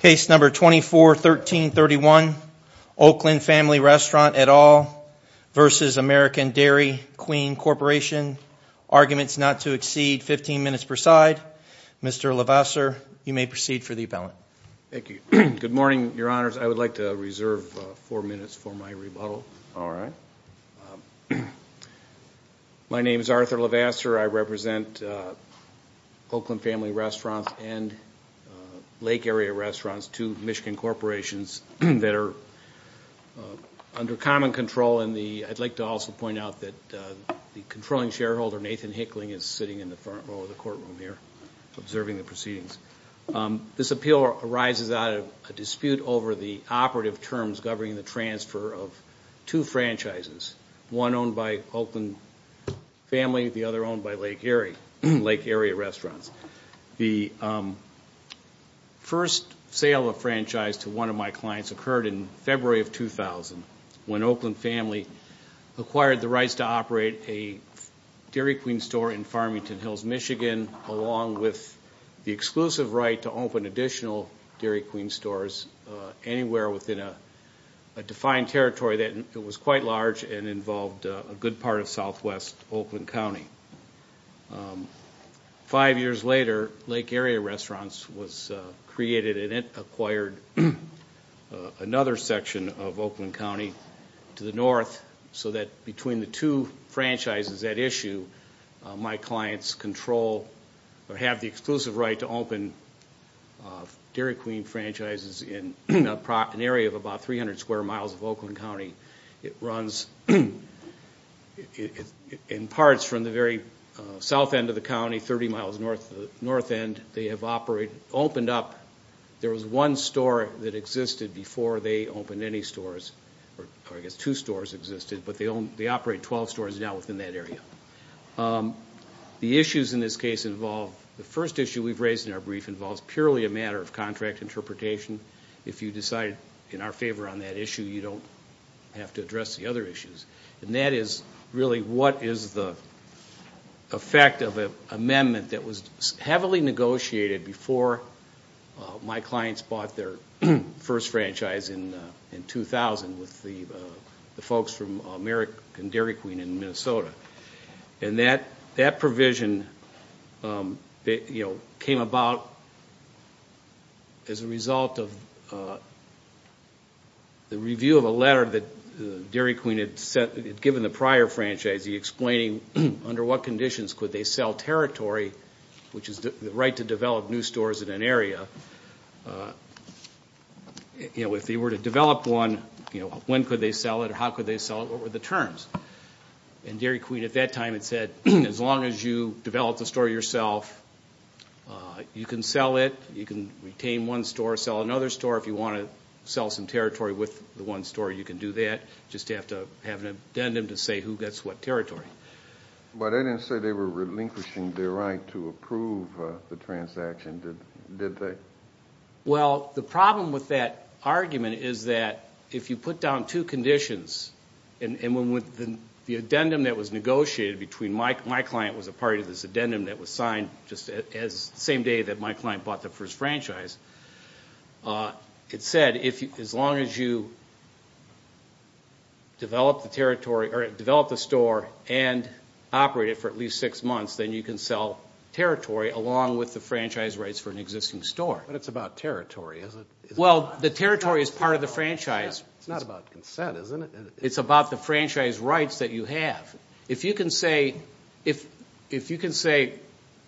Case No. 24-1331, Oakland Family Restaurant et al. v. American Dairy Queen Corp. Arguments not to exceed 15 minutes per side. Mr. Levasseur, you may proceed for the appellant. Thank you. Good morning, Your Honors. I would like to reserve four minutes for my rebuttal. All right. My name is Arthur Levasseur. I represent Oakland Family Restaurants and Lake Area Restaurants, two Michigan corporations that are under common control. And I'd like to also point out that the controlling shareholder, Nathan Hickling, is sitting in the front row of the courtroom here observing the proceedings. This appeal arises out of a dispute over the operative terms governing the transfer of two franchises, one owned by Oakland Family, the other owned by Lake Area Restaurants. The first sale of a franchise to one of my clients occurred in February of 2000, when Oakland Family acquired the rights to operate a Dairy Queen store in Farmington Hills, Michigan, along with the exclusive right to open additional Dairy Queen stores anywhere within a defined territory that was quite large and involved a good part of southwest Oakland County. Five years later, Lake Area Restaurants was created, and it acquired another section of Oakland County to the north so that between the two franchises at issue, my clients control or have the exclusive right to open Dairy Queen franchises in an area of about 300 square miles of Oakland County. It runs in parts from the very south end of the county, 30 miles north end. They have opened up. There was one store that existed before they opened any stores, or I guess two stores existed, but they operate 12 stores now within that area. The issues in this case involve the first issue we've raised in our brief involves purely a matter of contract interpretation. If you decide in our favor on that issue, you don't have to address the other issues. And that is really what is the effect of an amendment that was heavily negotiated before my clients bought their first franchise in 2000 with the folks from American Dairy Queen in Minnesota. And that provision came about as a result of the review of a letter that Dairy Queen had given the prior franchise, explaining under what conditions could they sell territory, which is the right to develop new stores in an area. If they were to develop one, when could they sell it or how could they sell it? What were the terms? And Dairy Queen at that time had said, as long as you develop the store yourself, you can sell it. You can retain one store, sell another store. If you want to sell some territory with the one store, you can do that. You just have to have an addendum to say who gets what territory. But I didn't say they were relinquishing their right to approve the transaction, did they? Well, the problem with that argument is that if you put down two conditions, and the addendum that was negotiated between my client was a part of this addendum that was signed the same day that my client bought the first franchise. It said as long as you develop the store and operate it for at least six months, then you can sell territory along with the franchise rights for an existing store. But it's about territory, isn't it? Well, the territory is part of the franchise. It's not about consent, isn't it? It's about the franchise rights that you have. If you can say,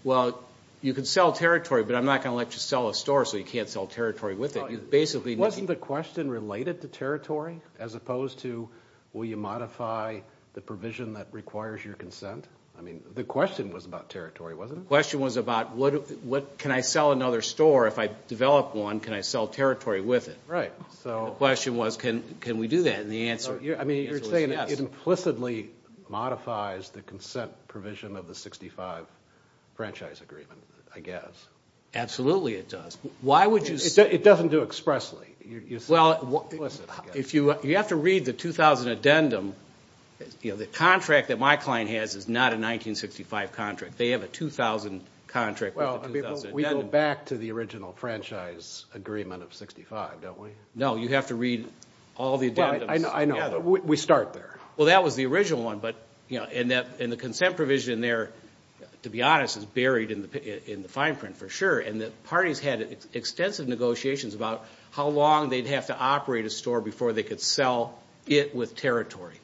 well, you can sell territory, but I'm not going to let you sell a store so you can't sell territory with it. Wasn't the question related to territory as opposed to will you modify the provision that requires your consent? I mean, the question was about territory, wasn't it? The question was about can I sell another store? If I develop one, can I sell territory with it? Right. The question was can we do that? I mean, you're saying it implicitly modifies the consent provision of the 65 franchise agreement, I guess. Absolutely it does. It doesn't do expressly. You have to read the 2000 addendum. The contract that my client has is not a 1965 contract. They have a 2000 contract with the 2000 addendum. Well, we go back to the original franchise agreement of 65, don't we? No, you have to read all the addendums. I know. We start there. Well, that was the original one, and the consent provision there, to be honest, is buried in the fine print for sure, and the parties had extensive negotiations about how long they'd have to operate a store before they could sell it with territory.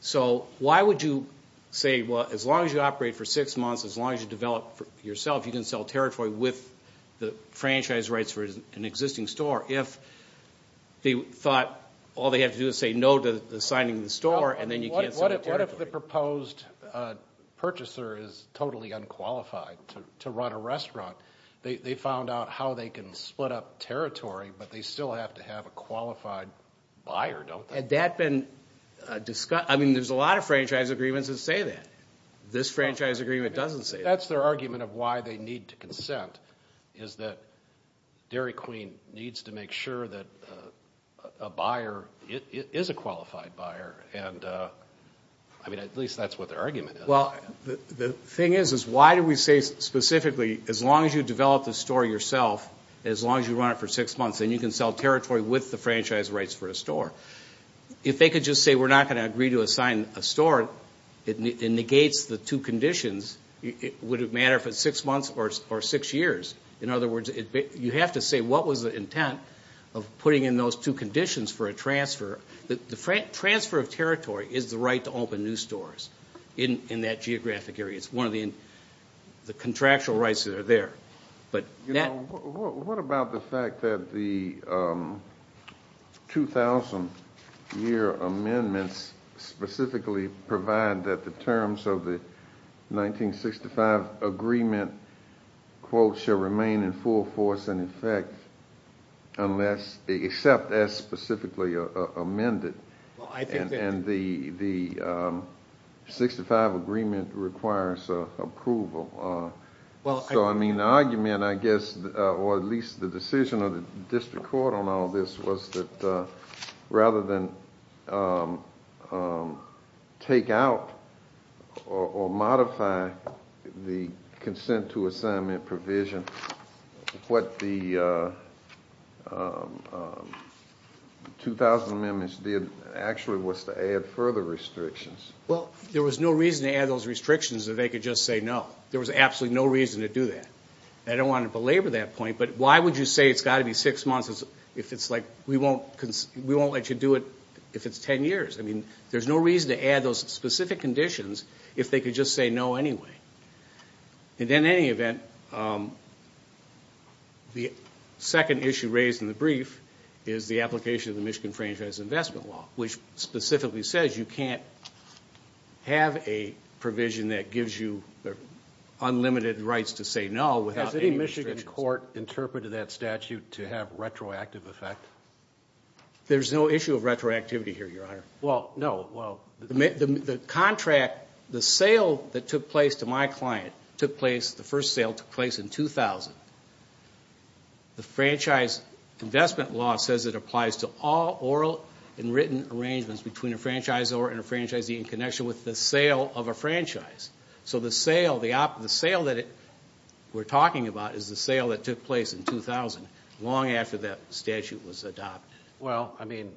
So why would you say, well, as long as you operate for six months, as long as you develop yourself, you can sell territory with the franchise rights for an existing store, if they thought all they had to do was say no to signing the store, and then you can't sell territory? What if the proposed purchaser is totally unqualified to run a restaurant? They found out how they can split up territory, but they still have to have a qualified buyer, don't they? Had that been discussed? I mean, there's a lot of franchise agreements that say that. This franchise agreement doesn't say that. If that's their argument of why they need to consent is that Dairy Queen needs to make sure that a buyer is a qualified buyer, and, I mean, at least that's what their argument is. Well, the thing is, is why do we say specifically as long as you develop the store yourself, as long as you run it for six months, then you can sell territory with the franchise rights for a store? If they could just say we're not going to agree to assign a store, it negates the two conditions. Would it matter if it's six months or six years? In other words, you have to say what was the intent of putting in those two conditions for a transfer. The transfer of territory is the right to open new stores in that geographic area. It's one of the contractual rights that are there. What about the fact that the 2,000-year amendments specifically provide that the terms of the 1965 agreement, quote, shall remain in full force and effect unless they accept as specifically amended, and the 1965 agreement requires approval? So, I mean, the argument, I guess, or at least the decision of the district court on all this, was that rather than take out or modify the consent to assignment provision, what the 2,000 amendments did actually was to add further restrictions. Well, there was no reason to add those restrictions if they could just say no. There was absolutely no reason to do that. I don't want to belabor that point, but why would you say it's got to be six months if it's like we won't let you do it if it's 10 years? I mean, there's no reason to add those specific conditions if they could just say no anyway. And in any event, the second issue raised in the brief is the application of the Michigan Franchise Investment Law, which specifically says you can't have a provision that gives you unlimited rights to say no without any restrictions. Has any Michigan court interpreted that statute to have retroactive effect? There's no issue of retroactivity here, Your Honor. Well, no. Well, the contract, the sale that took place to my client took place, the first sale took place in 2000. The Franchise Investment Law says it applies to all oral and written arrangements between a franchisor and a franchisee in connection with the sale of a franchise. So the sale that we're talking about is the sale that took place in 2000, long after that statute was adopted. Well, I mean,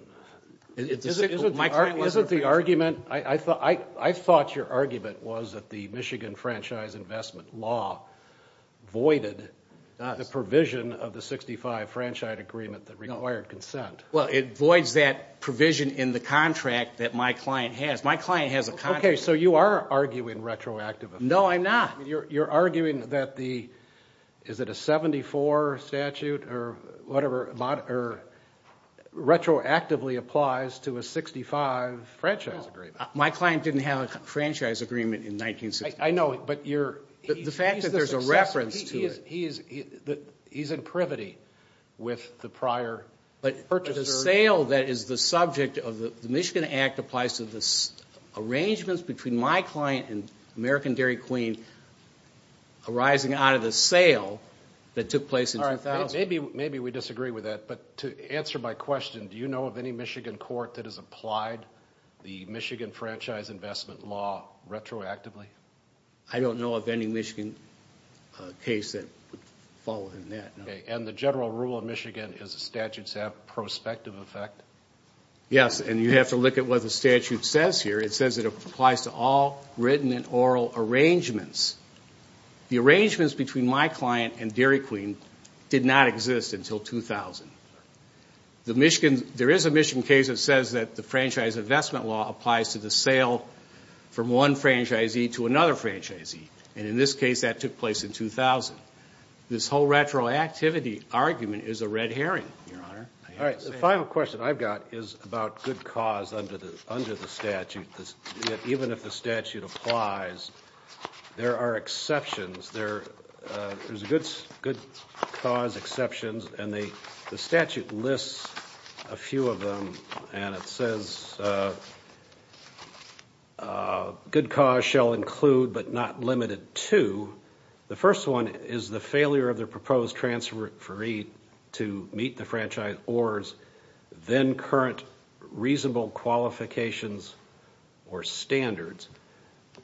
isn't the argument, I thought your argument was that the Michigan Franchise Investment Law voided the provision of the 65 Franchise Agreement that required consent. Well, it voids that provision in the contract that my client has. My client has a contract. Okay, so you are arguing retroactivity. No, I'm not. You're arguing that the, is it a 74 statute or whatever retroactively applies to a 65 Franchise Agreement. My client didn't have a Franchise Agreement in 1964. I know, but you're, the fact that there's a reference to it. He's in privity with the prior purchaser. The sale that is the subject of the Michigan Act applies to the arrangements between my client and American Dairy Queen arising out of the sale that took place in 2000. Maybe we disagree with that, but to answer my question, do you know of any Michigan court that has applied the Michigan Franchise Investment Law retroactively? I don't know of any Michigan case that would fall within that. Okay, and the general rule of Michigan is the statutes have prospective effect? Yes, and you have to look at what the statute says here. It says it applies to all written and oral arrangements. The arrangements between my client and Dairy Queen did not exist until 2000. The Michigan, there is a Michigan case that says that the Franchise Investment Law applies to the sale from one franchisee to another franchisee, and in this case, that took place in 2000. This whole retroactivity argument is a red herring, Your Honor. All right, the final question I've got is about good cause under the statute. Even if the statute applies, there are exceptions. There's good cause exceptions, and the statute lists a few of them, and it says good cause shall include but not limited to. The first one is the failure of the proposed transferee to meet the franchise or's then current reasonable qualifications or standards.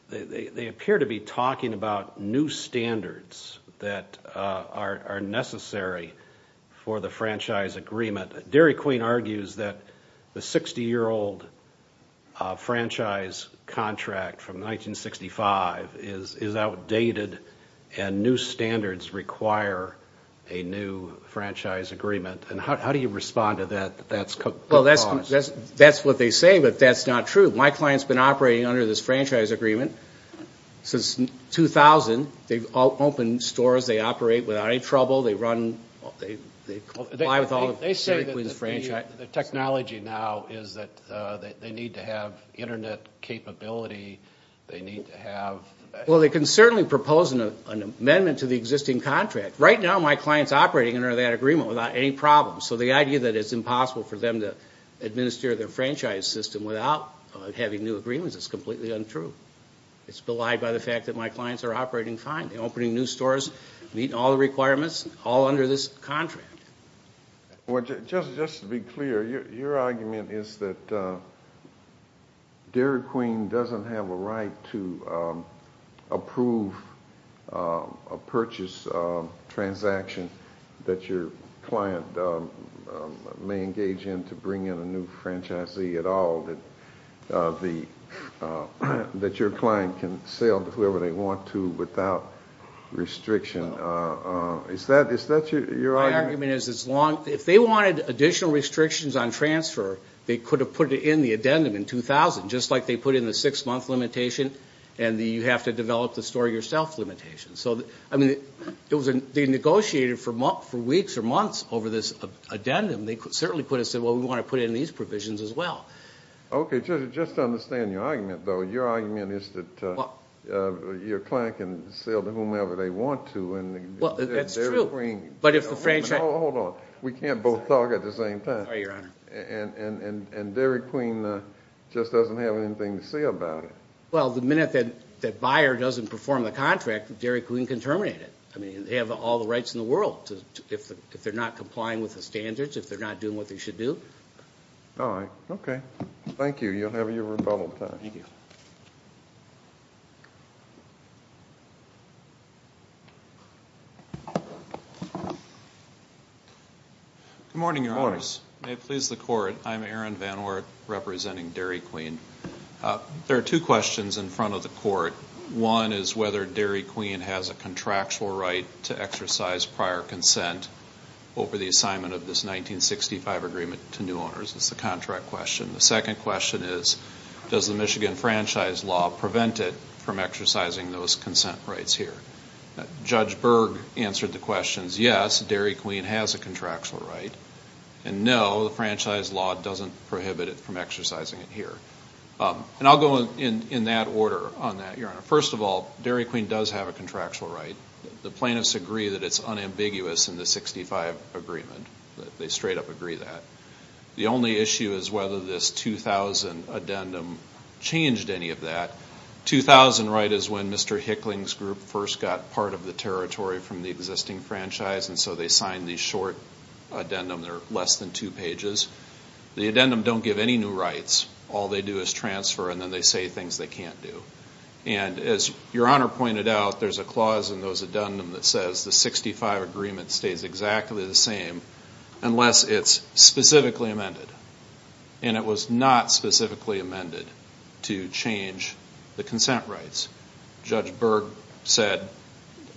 They appear to be talking about new standards that are necessary for the franchise agreement. Dairy Queen argues that the 60-year-old franchise contract from 1965 is outdated and new standards require a new franchise agreement, and how do you respond to that? That's what they say, but that's not true. My client's been operating under this franchise agreement since 2000. They've opened stores. They operate without any trouble. They comply with all of Dairy Queen's franchise. They say that the technology now is that they need to have Internet capability. They need to have ________. Well, they can certainly propose an amendment to the existing contract. Right now, my client's operating under that agreement without any problems, so the idea that it's impossible for them to administer their franchise system without having new agreements is completely untrue. It's belied by the fact that my clients are operating fine. They're opening new stores, meeting all the requirements, all under this contract. Just to be clear, your argument is that Dairy Queen doesn't have a right to approve a purchase transaction that your client may engage in to bring in a new franchisee at all, that your client can sell to whoever they want to without restriction. Is that your argument? My argument is, if they wanted additional restrictions on transfer, they could have put it in the addendum in 2000, just like they put in the six-month limitation and the you-have-to-develop-the-store-yourself limitation. They negotiated for weeks or months over this addendum. They certainly could have said, well, we want to put it in these provisions as well. Okay, just to understand your argument, though, your argument is that your client can sell to whomever they want to. Well, that's true. Hold on. We can't both talk at the same time. Sorry, Your Honor. And Dairy Queen just doesn't have anything to say about it. Well, the minute that buyer doesn't perform the contract, Dairy Queen can terminate it. I mean, they have all the rights in the world. If they're not complying with the standards, if they're not doing what they should do. All right, okay. Thank you. You'll have your rebuttal time. Good morning, Your Honors. Good morning. May it please the Court, I'm Aaron Van Oort representing Dairy Queen. There are two questions in front of the Court. One is whether Dairy Queen has a contractual right to exercise prior consent over the assignment of this 1965 agreement to new owners. That's the contract question. The second question is, does the Michigan Franchise Law prevent it from exercising those consent rights here? Judge Berg answered the questions, yes, Dairy Queen has a contractual right, and no, the Franchise Law doesn't prohibit it from exercising it here. And I'll go in that order on that, Your Honor. First of all, Dairy Queen does have a contractual right. The plaintiffs agree that it's unambiguous in the 1965 agreement. They straight up agree that. The only issue is whether this 2000 addendum changed any of that. 2000, right, is when Mr. Hickling's group first got part of the territory from the existing franchise, and so they signed the short addendum. They're less than two pages. The addendum don't give any new rights. All they do is transfer, and then they say things they can't do. And as Your Honor pointed out, there's a clause in those addendum that says the 1965 agreement stays exactly the same unless it's specifically amended. And it was not specifically amended to change the consent rights. Judge Berg said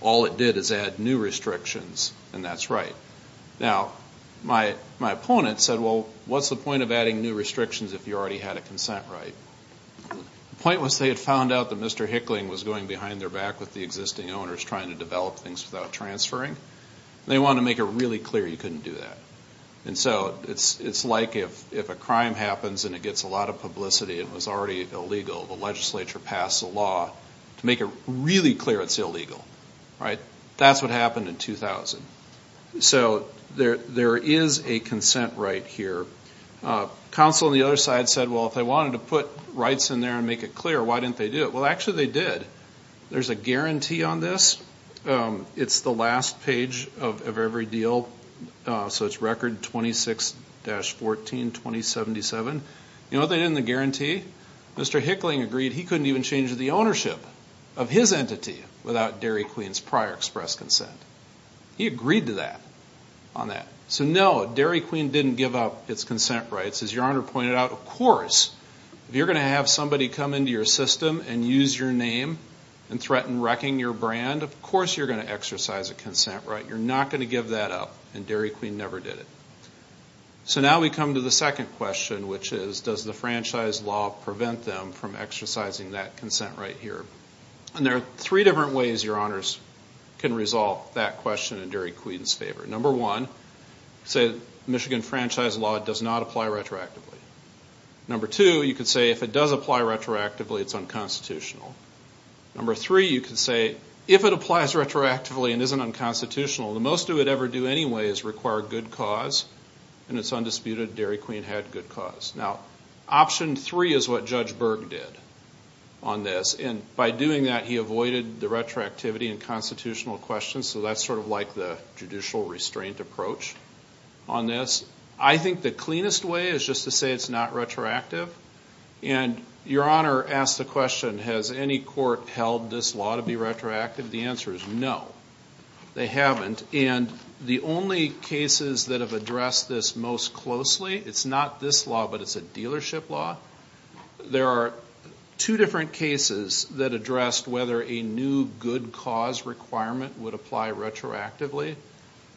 all it did is add new restrictions, and that's right. Now, my opponent said, well, what's the point of adding new restrictions if you already had a consent right? The point was they had found out that Mr. Hickling was going behind their back with the existing owners trying to develop things without transferring. They wanted to make it really clear you couldn't do that. And so it's like if a crime happens and it gets a lot of publicity and was already illegal, the legislature passed a law to make it really clear it's illegal. That's what happened in 2000. So there is a consent right here. Counsel on the other side said, well, if they wanted to put rights in there and make it clear, why didn't they do it? Well, actually they did. There's a guarantee on this. It's the last page of every deal, so it's Record 26-14-2077. You know what they did in the guarantee? Mr. Hickling agreed he couldn't even change the ownership of his entity without Dairy Queen's prior express consent. He agreed to that on that. So no, Dairy Queen didn't give up its consent rights. As Your Honor pointed out, of course, if you're going to have somebody come into your system and use your name and threaten wrecking your brand, of course you're going to exercise a consent right. You're not going to give that up, and Dairy Queen never did it. So now we come to the second question, which is, does the franchise law prevent them from exercising that consent right here? And there are three different ways Your Honors can resolve that question in Dairy Queen's favor. Number one, say Michigan franchise law does not apply retroactively. Number two, you could say if it does apply retroactively, it's unconstitutional. Number three, you could say if it applies retroactively and isn't unconstitutional, the most it would ever do anyway is require good cause, and it's undisputed Dairy Queen had good cause. Now, option three is what Judge Berg did on this. And by doing that, he avoided the retroactivity and constitutional questions, so that's sort of like the judicial restraint approach on this. I think the cleanest way is just to say it's not retroactive. And Your Honor asked the question, has any court held this law to be retroactive? The answer is no, they haven't. And the only cases that have addressed this most closely, it's not this law, but it's a dealership law. There are two different cases that addressed whether a new good cause requirement would apply retroactively.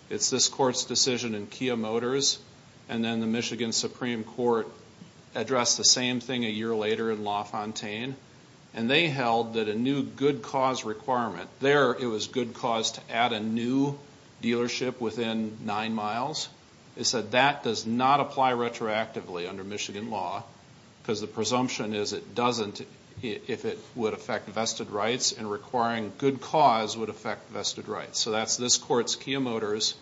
It's this court's decision in Kia Motors, and then the Michigan Supreme Court addressed the same thing a year later in LaFontaine. And they held that a new good cause requirement, there it was good cause to add a new dealership within nine miles. They said that does not apply retroactively under Michigan law, because the presumption is it doesn't if it would affect vested rights, and requiring good cause would affect vested rights. So that's this court's Kia Motors,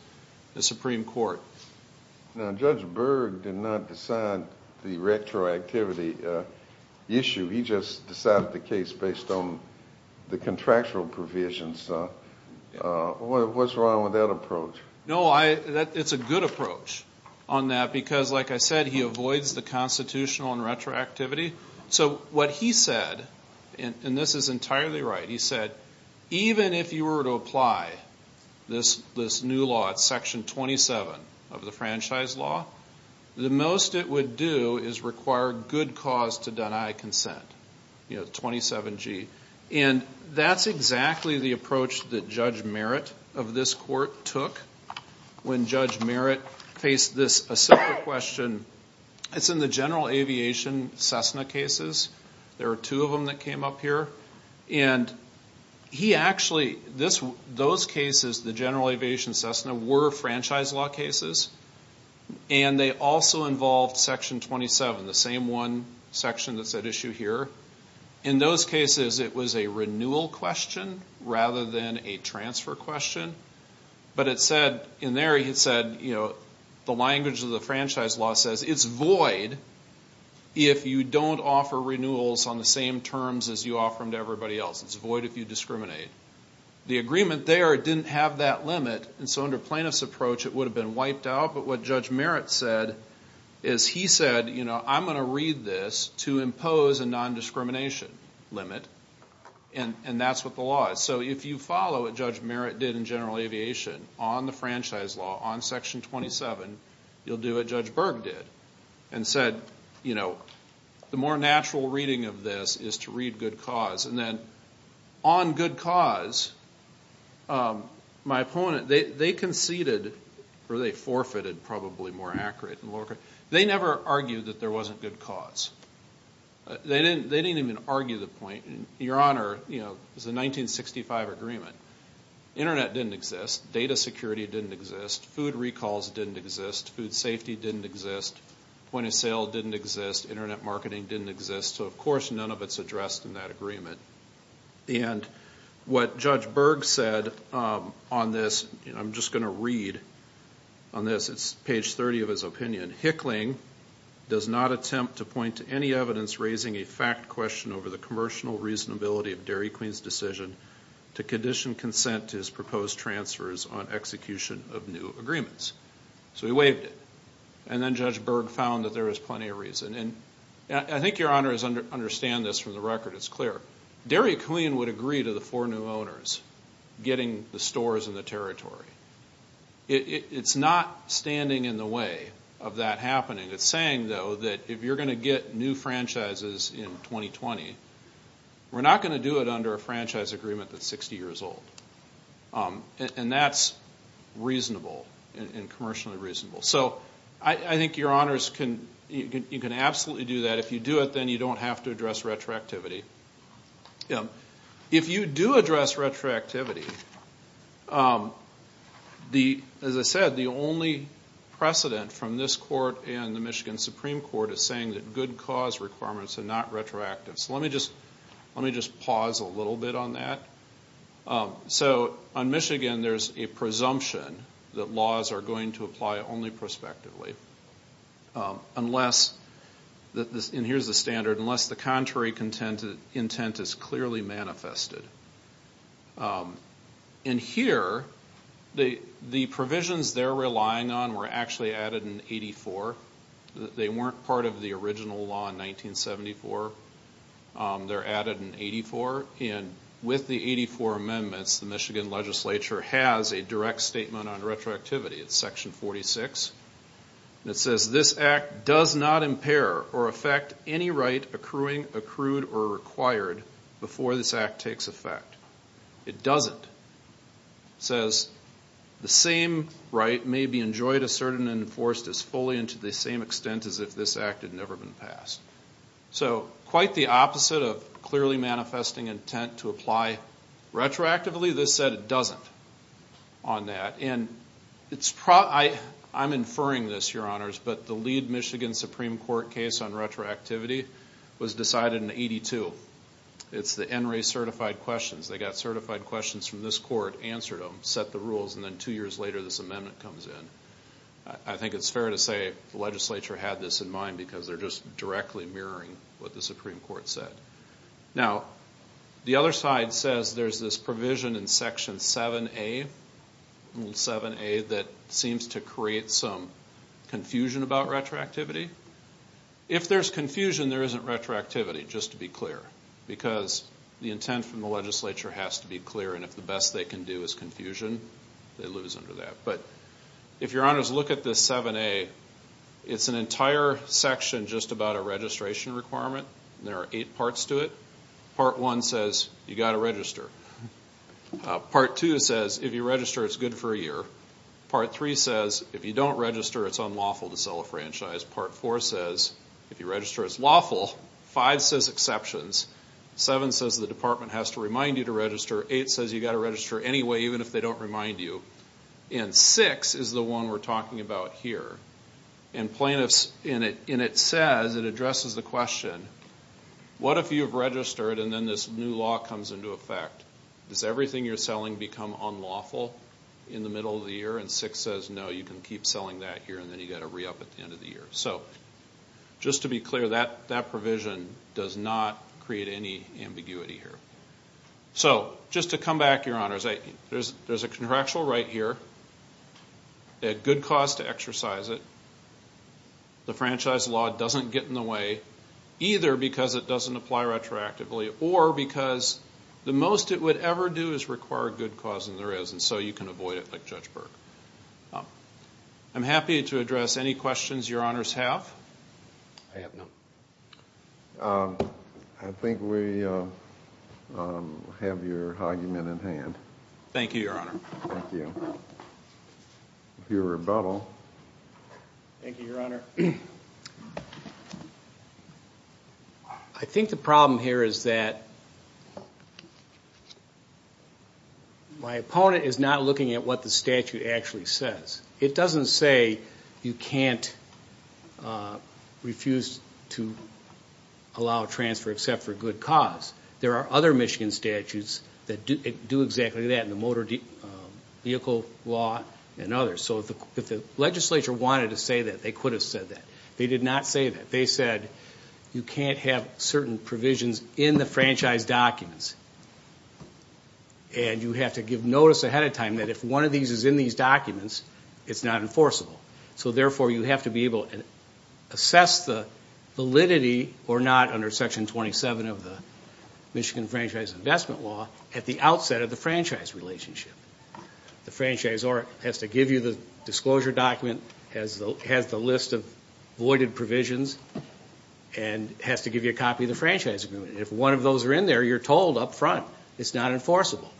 the Supreme Court. Now Judge Berg did not decide the retroactivity issue. He just decided the case based on the contractual provisions. What's wrong with that approach? No, it's a good approach on that, because like I said, he avoids the constitutional and retroactivity. So what he said, and this is entirely right, he said, even if you were to apply this new law, it's section 27 of the franchise law, the most it would do is require good cause to deny consent, 27G. And that's exactly the approach that Judge Merritt of this court took when Judge Merritt faced this question. It's in the general aviation Cessna cases. There are two of them that came up here. And he actually, those cases, the general aviation Cessna, were franchise law cases, and they also involved section 27, the same one section that's at issue here. In those cases, it was a renewal question rather than a transfer question. But it said, in there it said, you know, the language of the franchise law says it's void if you don't offer renewals on the same terms as you offer them to everybody else. It's void if you discriminate. The agreement there didn't have that limit. And so under plaintiff's approach, it would have been wiped out. But what Judge Merritt said is he said, you know, I'm going to read this to impose a nondiscrimination limit, and that's what the law is. So if you follow what Judge Merritt did in general aviation on the franchise law, on section 27, you'll do what Judge Berg did and said, you know, the more natural reading of this is to read good cause. And then on good cause, my opponent, they conceded or they forfeited probably more accurate. They never argued that there wasn't good cause. They didn't even argue the point. Your Honor, you know, it was a 1965 agreement. Internet didn't exist. Data security didn't exist. Food recalls didn't exist. Food safety didn't exist. Point of sale didn't exist. Internet marketing didn't exist. So, of course, none of it's addressed in that agreement. And what Judge Berg said on this, I'm just going to read on this. It's page 30 of his opinion. Hickling does not attempt to point to any evidence raising a fact question over the commercial reasonability of Derry Queen's decision to condition consent to his proposed transfers on execution of new agreements. So he waived it. And then Judge Berg found that there was plenty of reason. And I think Your Honor is going to understand this from the record. It's clear. Derry Queen would agree to the four new owners getting the stores and the territory. It's not standing in the way of that happening. It's saying, though, that if you're going to get new franchises in 2020, we're not going to do it under a franchise agreement that's 60 years old. And that's reasonable and commercially reasonable. So I think Your Honors, you can absolutely do that. If you do it, then you don't have to address retroactivity. If you do address retroactivity, as I said, the only precedent from this court and the Michigan Supreme Court is saying that good cause requirements are not retroactive. So let me just pause a little bit on that. So on Michigan, there's a presumption that laws are going to apply only prospectively. Unless, and here's the standard, unless the contrary intent is clearly manifested. And here, the provisions they're relying on were actually added in 84. They weren't part of the original law in 1974. They're added in 84. And with the 84 amendments, the Michigan legislature has a direct statement on retroactivity. It's Section 46. And it says, This Act does not impair or affect any right accruing, accrued, or required before this Act takes effect. It doesn't. It says, The same right may be enjoyed, asserted, and enforced as fully and to the same extent as if this Act had never been passed. So quite the opposite of clearly manifesting intent to apply retroactively. This said it doesn't on that. And I'm inferring this, Your Honors, but the lead Michigan Supreme Court case on retroactivity was decided in 82. It's the NRA certified questions. They got certified questions from this court, answered them, set the rules, and then two years later this amendment comes in. I think it's fair to say the legislature had this in mind because they're just directly mirroring what the Supreme Court said. Now, the other side says there's this provision in Section 7A. 7A that seems to create some confusion about retroactivity. If there's confusion, there isn't retroactivity, just to be clear, because the intent from the legislature has to be clear, and if the best they can do is confusion, they lose under that. But if Your Honors look at this 7A, it's an entire section just about a registration requirement. There are eight parts to it. Part 1 says you've got to register. Part 2 says if you register, it's good for a year. Part 3 says if you don't register, it's unlawful to sell a franchise. Part 4 says if you register, it's lawful. 5 says exceptions. 7 says the department has to remind you to register. 8 says you've got to register anyway, even if they don't remind you. And 6 is the one we're talking about here. And it says, it addresses the question, what if you've registered and then this new law comes into effect? Does everything you're selling become unlawful in the middle of the year? And 6 says, no, you can keep selling that year, and then you've got to re-up at the end of the year. So just to be clear, that provision does not create any ambiguity here. So just to come back, Your Honors, there's a contractual right here. They had good cause to exercise it. The franchise law doesn't get in the way. Either because it doesn't apply retroactively, or because the most it would ever do is require good cause, and there is, and so you can avoid it like Judge Burke. I'm happy to address any questions Your Honors have. I have none. I think we have your argument at hand. Thank you, Your Honor. Thank you. If you rebuttal. Thank you, Your Honor. I think the problem here is that my opponent is not looking at what the statute actually says. It doesn't say you can't refuse to allow transfer except for good cause. There are other Michigan statutes that do exactly that in the motor vehicle law and others. So if the legislature wanted to say that, they could have said that. They did not say that. They said you can't have certain provisions in the franchise documents, and you have to give notice ahead of time that if one of these is in these documents, it's not enforceable. So, therefore, you have to be able to assess the validity or not under Section 27 of the Michigan Franchise Investment Law at the outset of the franchise relationship. The franchisor has to give you the disclosure document, has the list of voided provisions, and has to give you a copy of the franchise agreement. If one of those are in there, you're told up front it's not enforceable.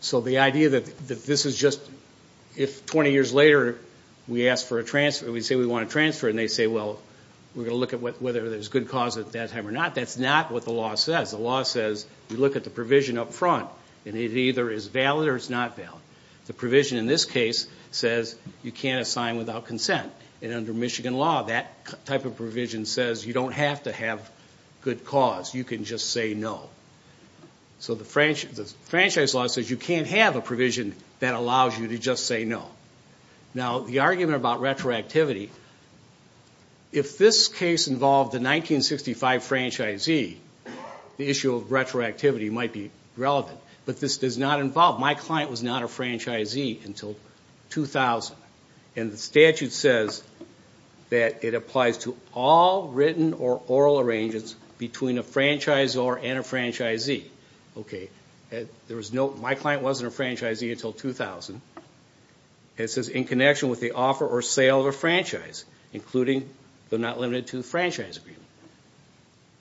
So the idea that this is just if 20 years later we say we want to transfer, and they say, well, we're going to look at whether there's good cause at that time or not, that's not what the law says. The law says you look at the provision up front, and it either is valid or it's not valid. The provision in this case says you can't assign without consent. And under Michigan law, that type of provision says you don't have to have good cause. You can just say no. So the franchise law says you can't have a provision that allows you to just say no. Now, the argument about retroactivity, if this case involved the 1965 franchisee, the issue of retroactivity might be relevant. But this does not involve my client was not a franchisee until 2000. And the statute says that it applies to all written or oral arrangements between a franchisor and a franchisee. Okay. There was no, my client wasn't a franchisee until 2000. It says in connection with the offer or sale of a franchise, including but not limited to the franchise agreement.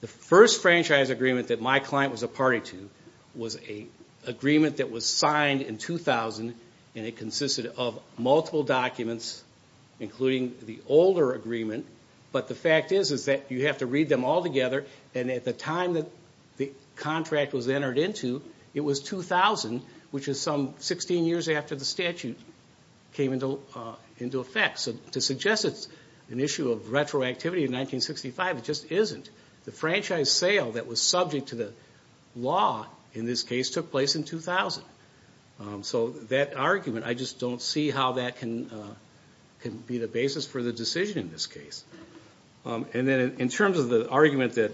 The first franchise agreement that my client was a party to was an agreement that was signed in 2000, and it consisted of multiple documents, including the older agreement. But the fact is that you have to read them all together, and at the time that the contract was entered into, it was 2000, which is some 16 years after the statute came into effect. So to suggest it's an issue of retroactivity in 1965, it just isn't. The franchise sale that was subject to the law in this case took place in 2000. So that argument, I just don't see how that can be the basis for the decision in this case. And then in terms of the argument that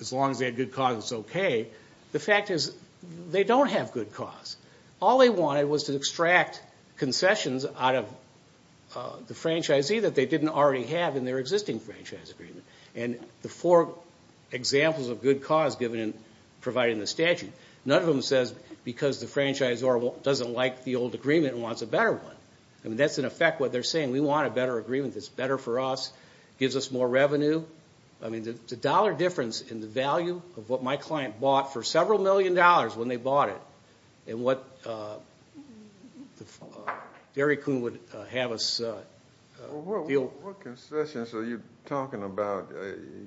as long as they had good cause, it's okay, the fact is they don't have good cause. All they wanted was to extract concessions out of the franchisee that they didn't already have in their existing franchise agreement. And the four examples of good cause provided in the statute, none of them says because the franchisor doesn't like the old agreement and wants a better one. I mean, that's in effect what they're saying. We want a better agreement that's better for us, gives us more revenue. I mean, the dollar difference in the value of what my client bought for several million dollars when they bought it and what Derry Coon would have us deal. What concessions are you talking about?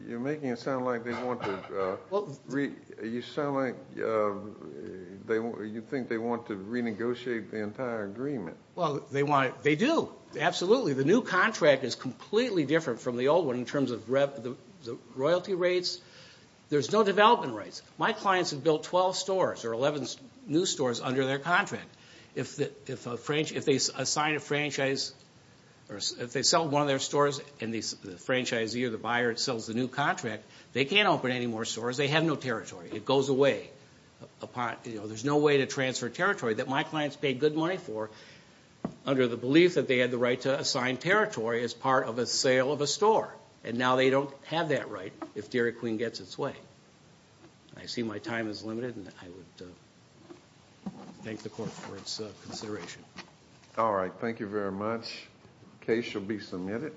You're making it sound like they want to renegotiate the entire agreement. Well, they do, absolutely. The new contract is completely different from the old one in terms of royalty rates. There's no development rates. My clients have built 12 stores or 11 new stores under their contract. If they sell one of their stores and the franchisee or the buyer sells the new contract, they can't open any more stores. They have no territory. It goes away. There's no way to transfer territory that my clients paid good money for under the belief that they had the right to assign territory as part of a sale of a store. Now they don't have that right if Derry Coon gets its way. I see my time is limited and I would thank the court for its consideration. All right. Thank you very much. Case shall be submitted.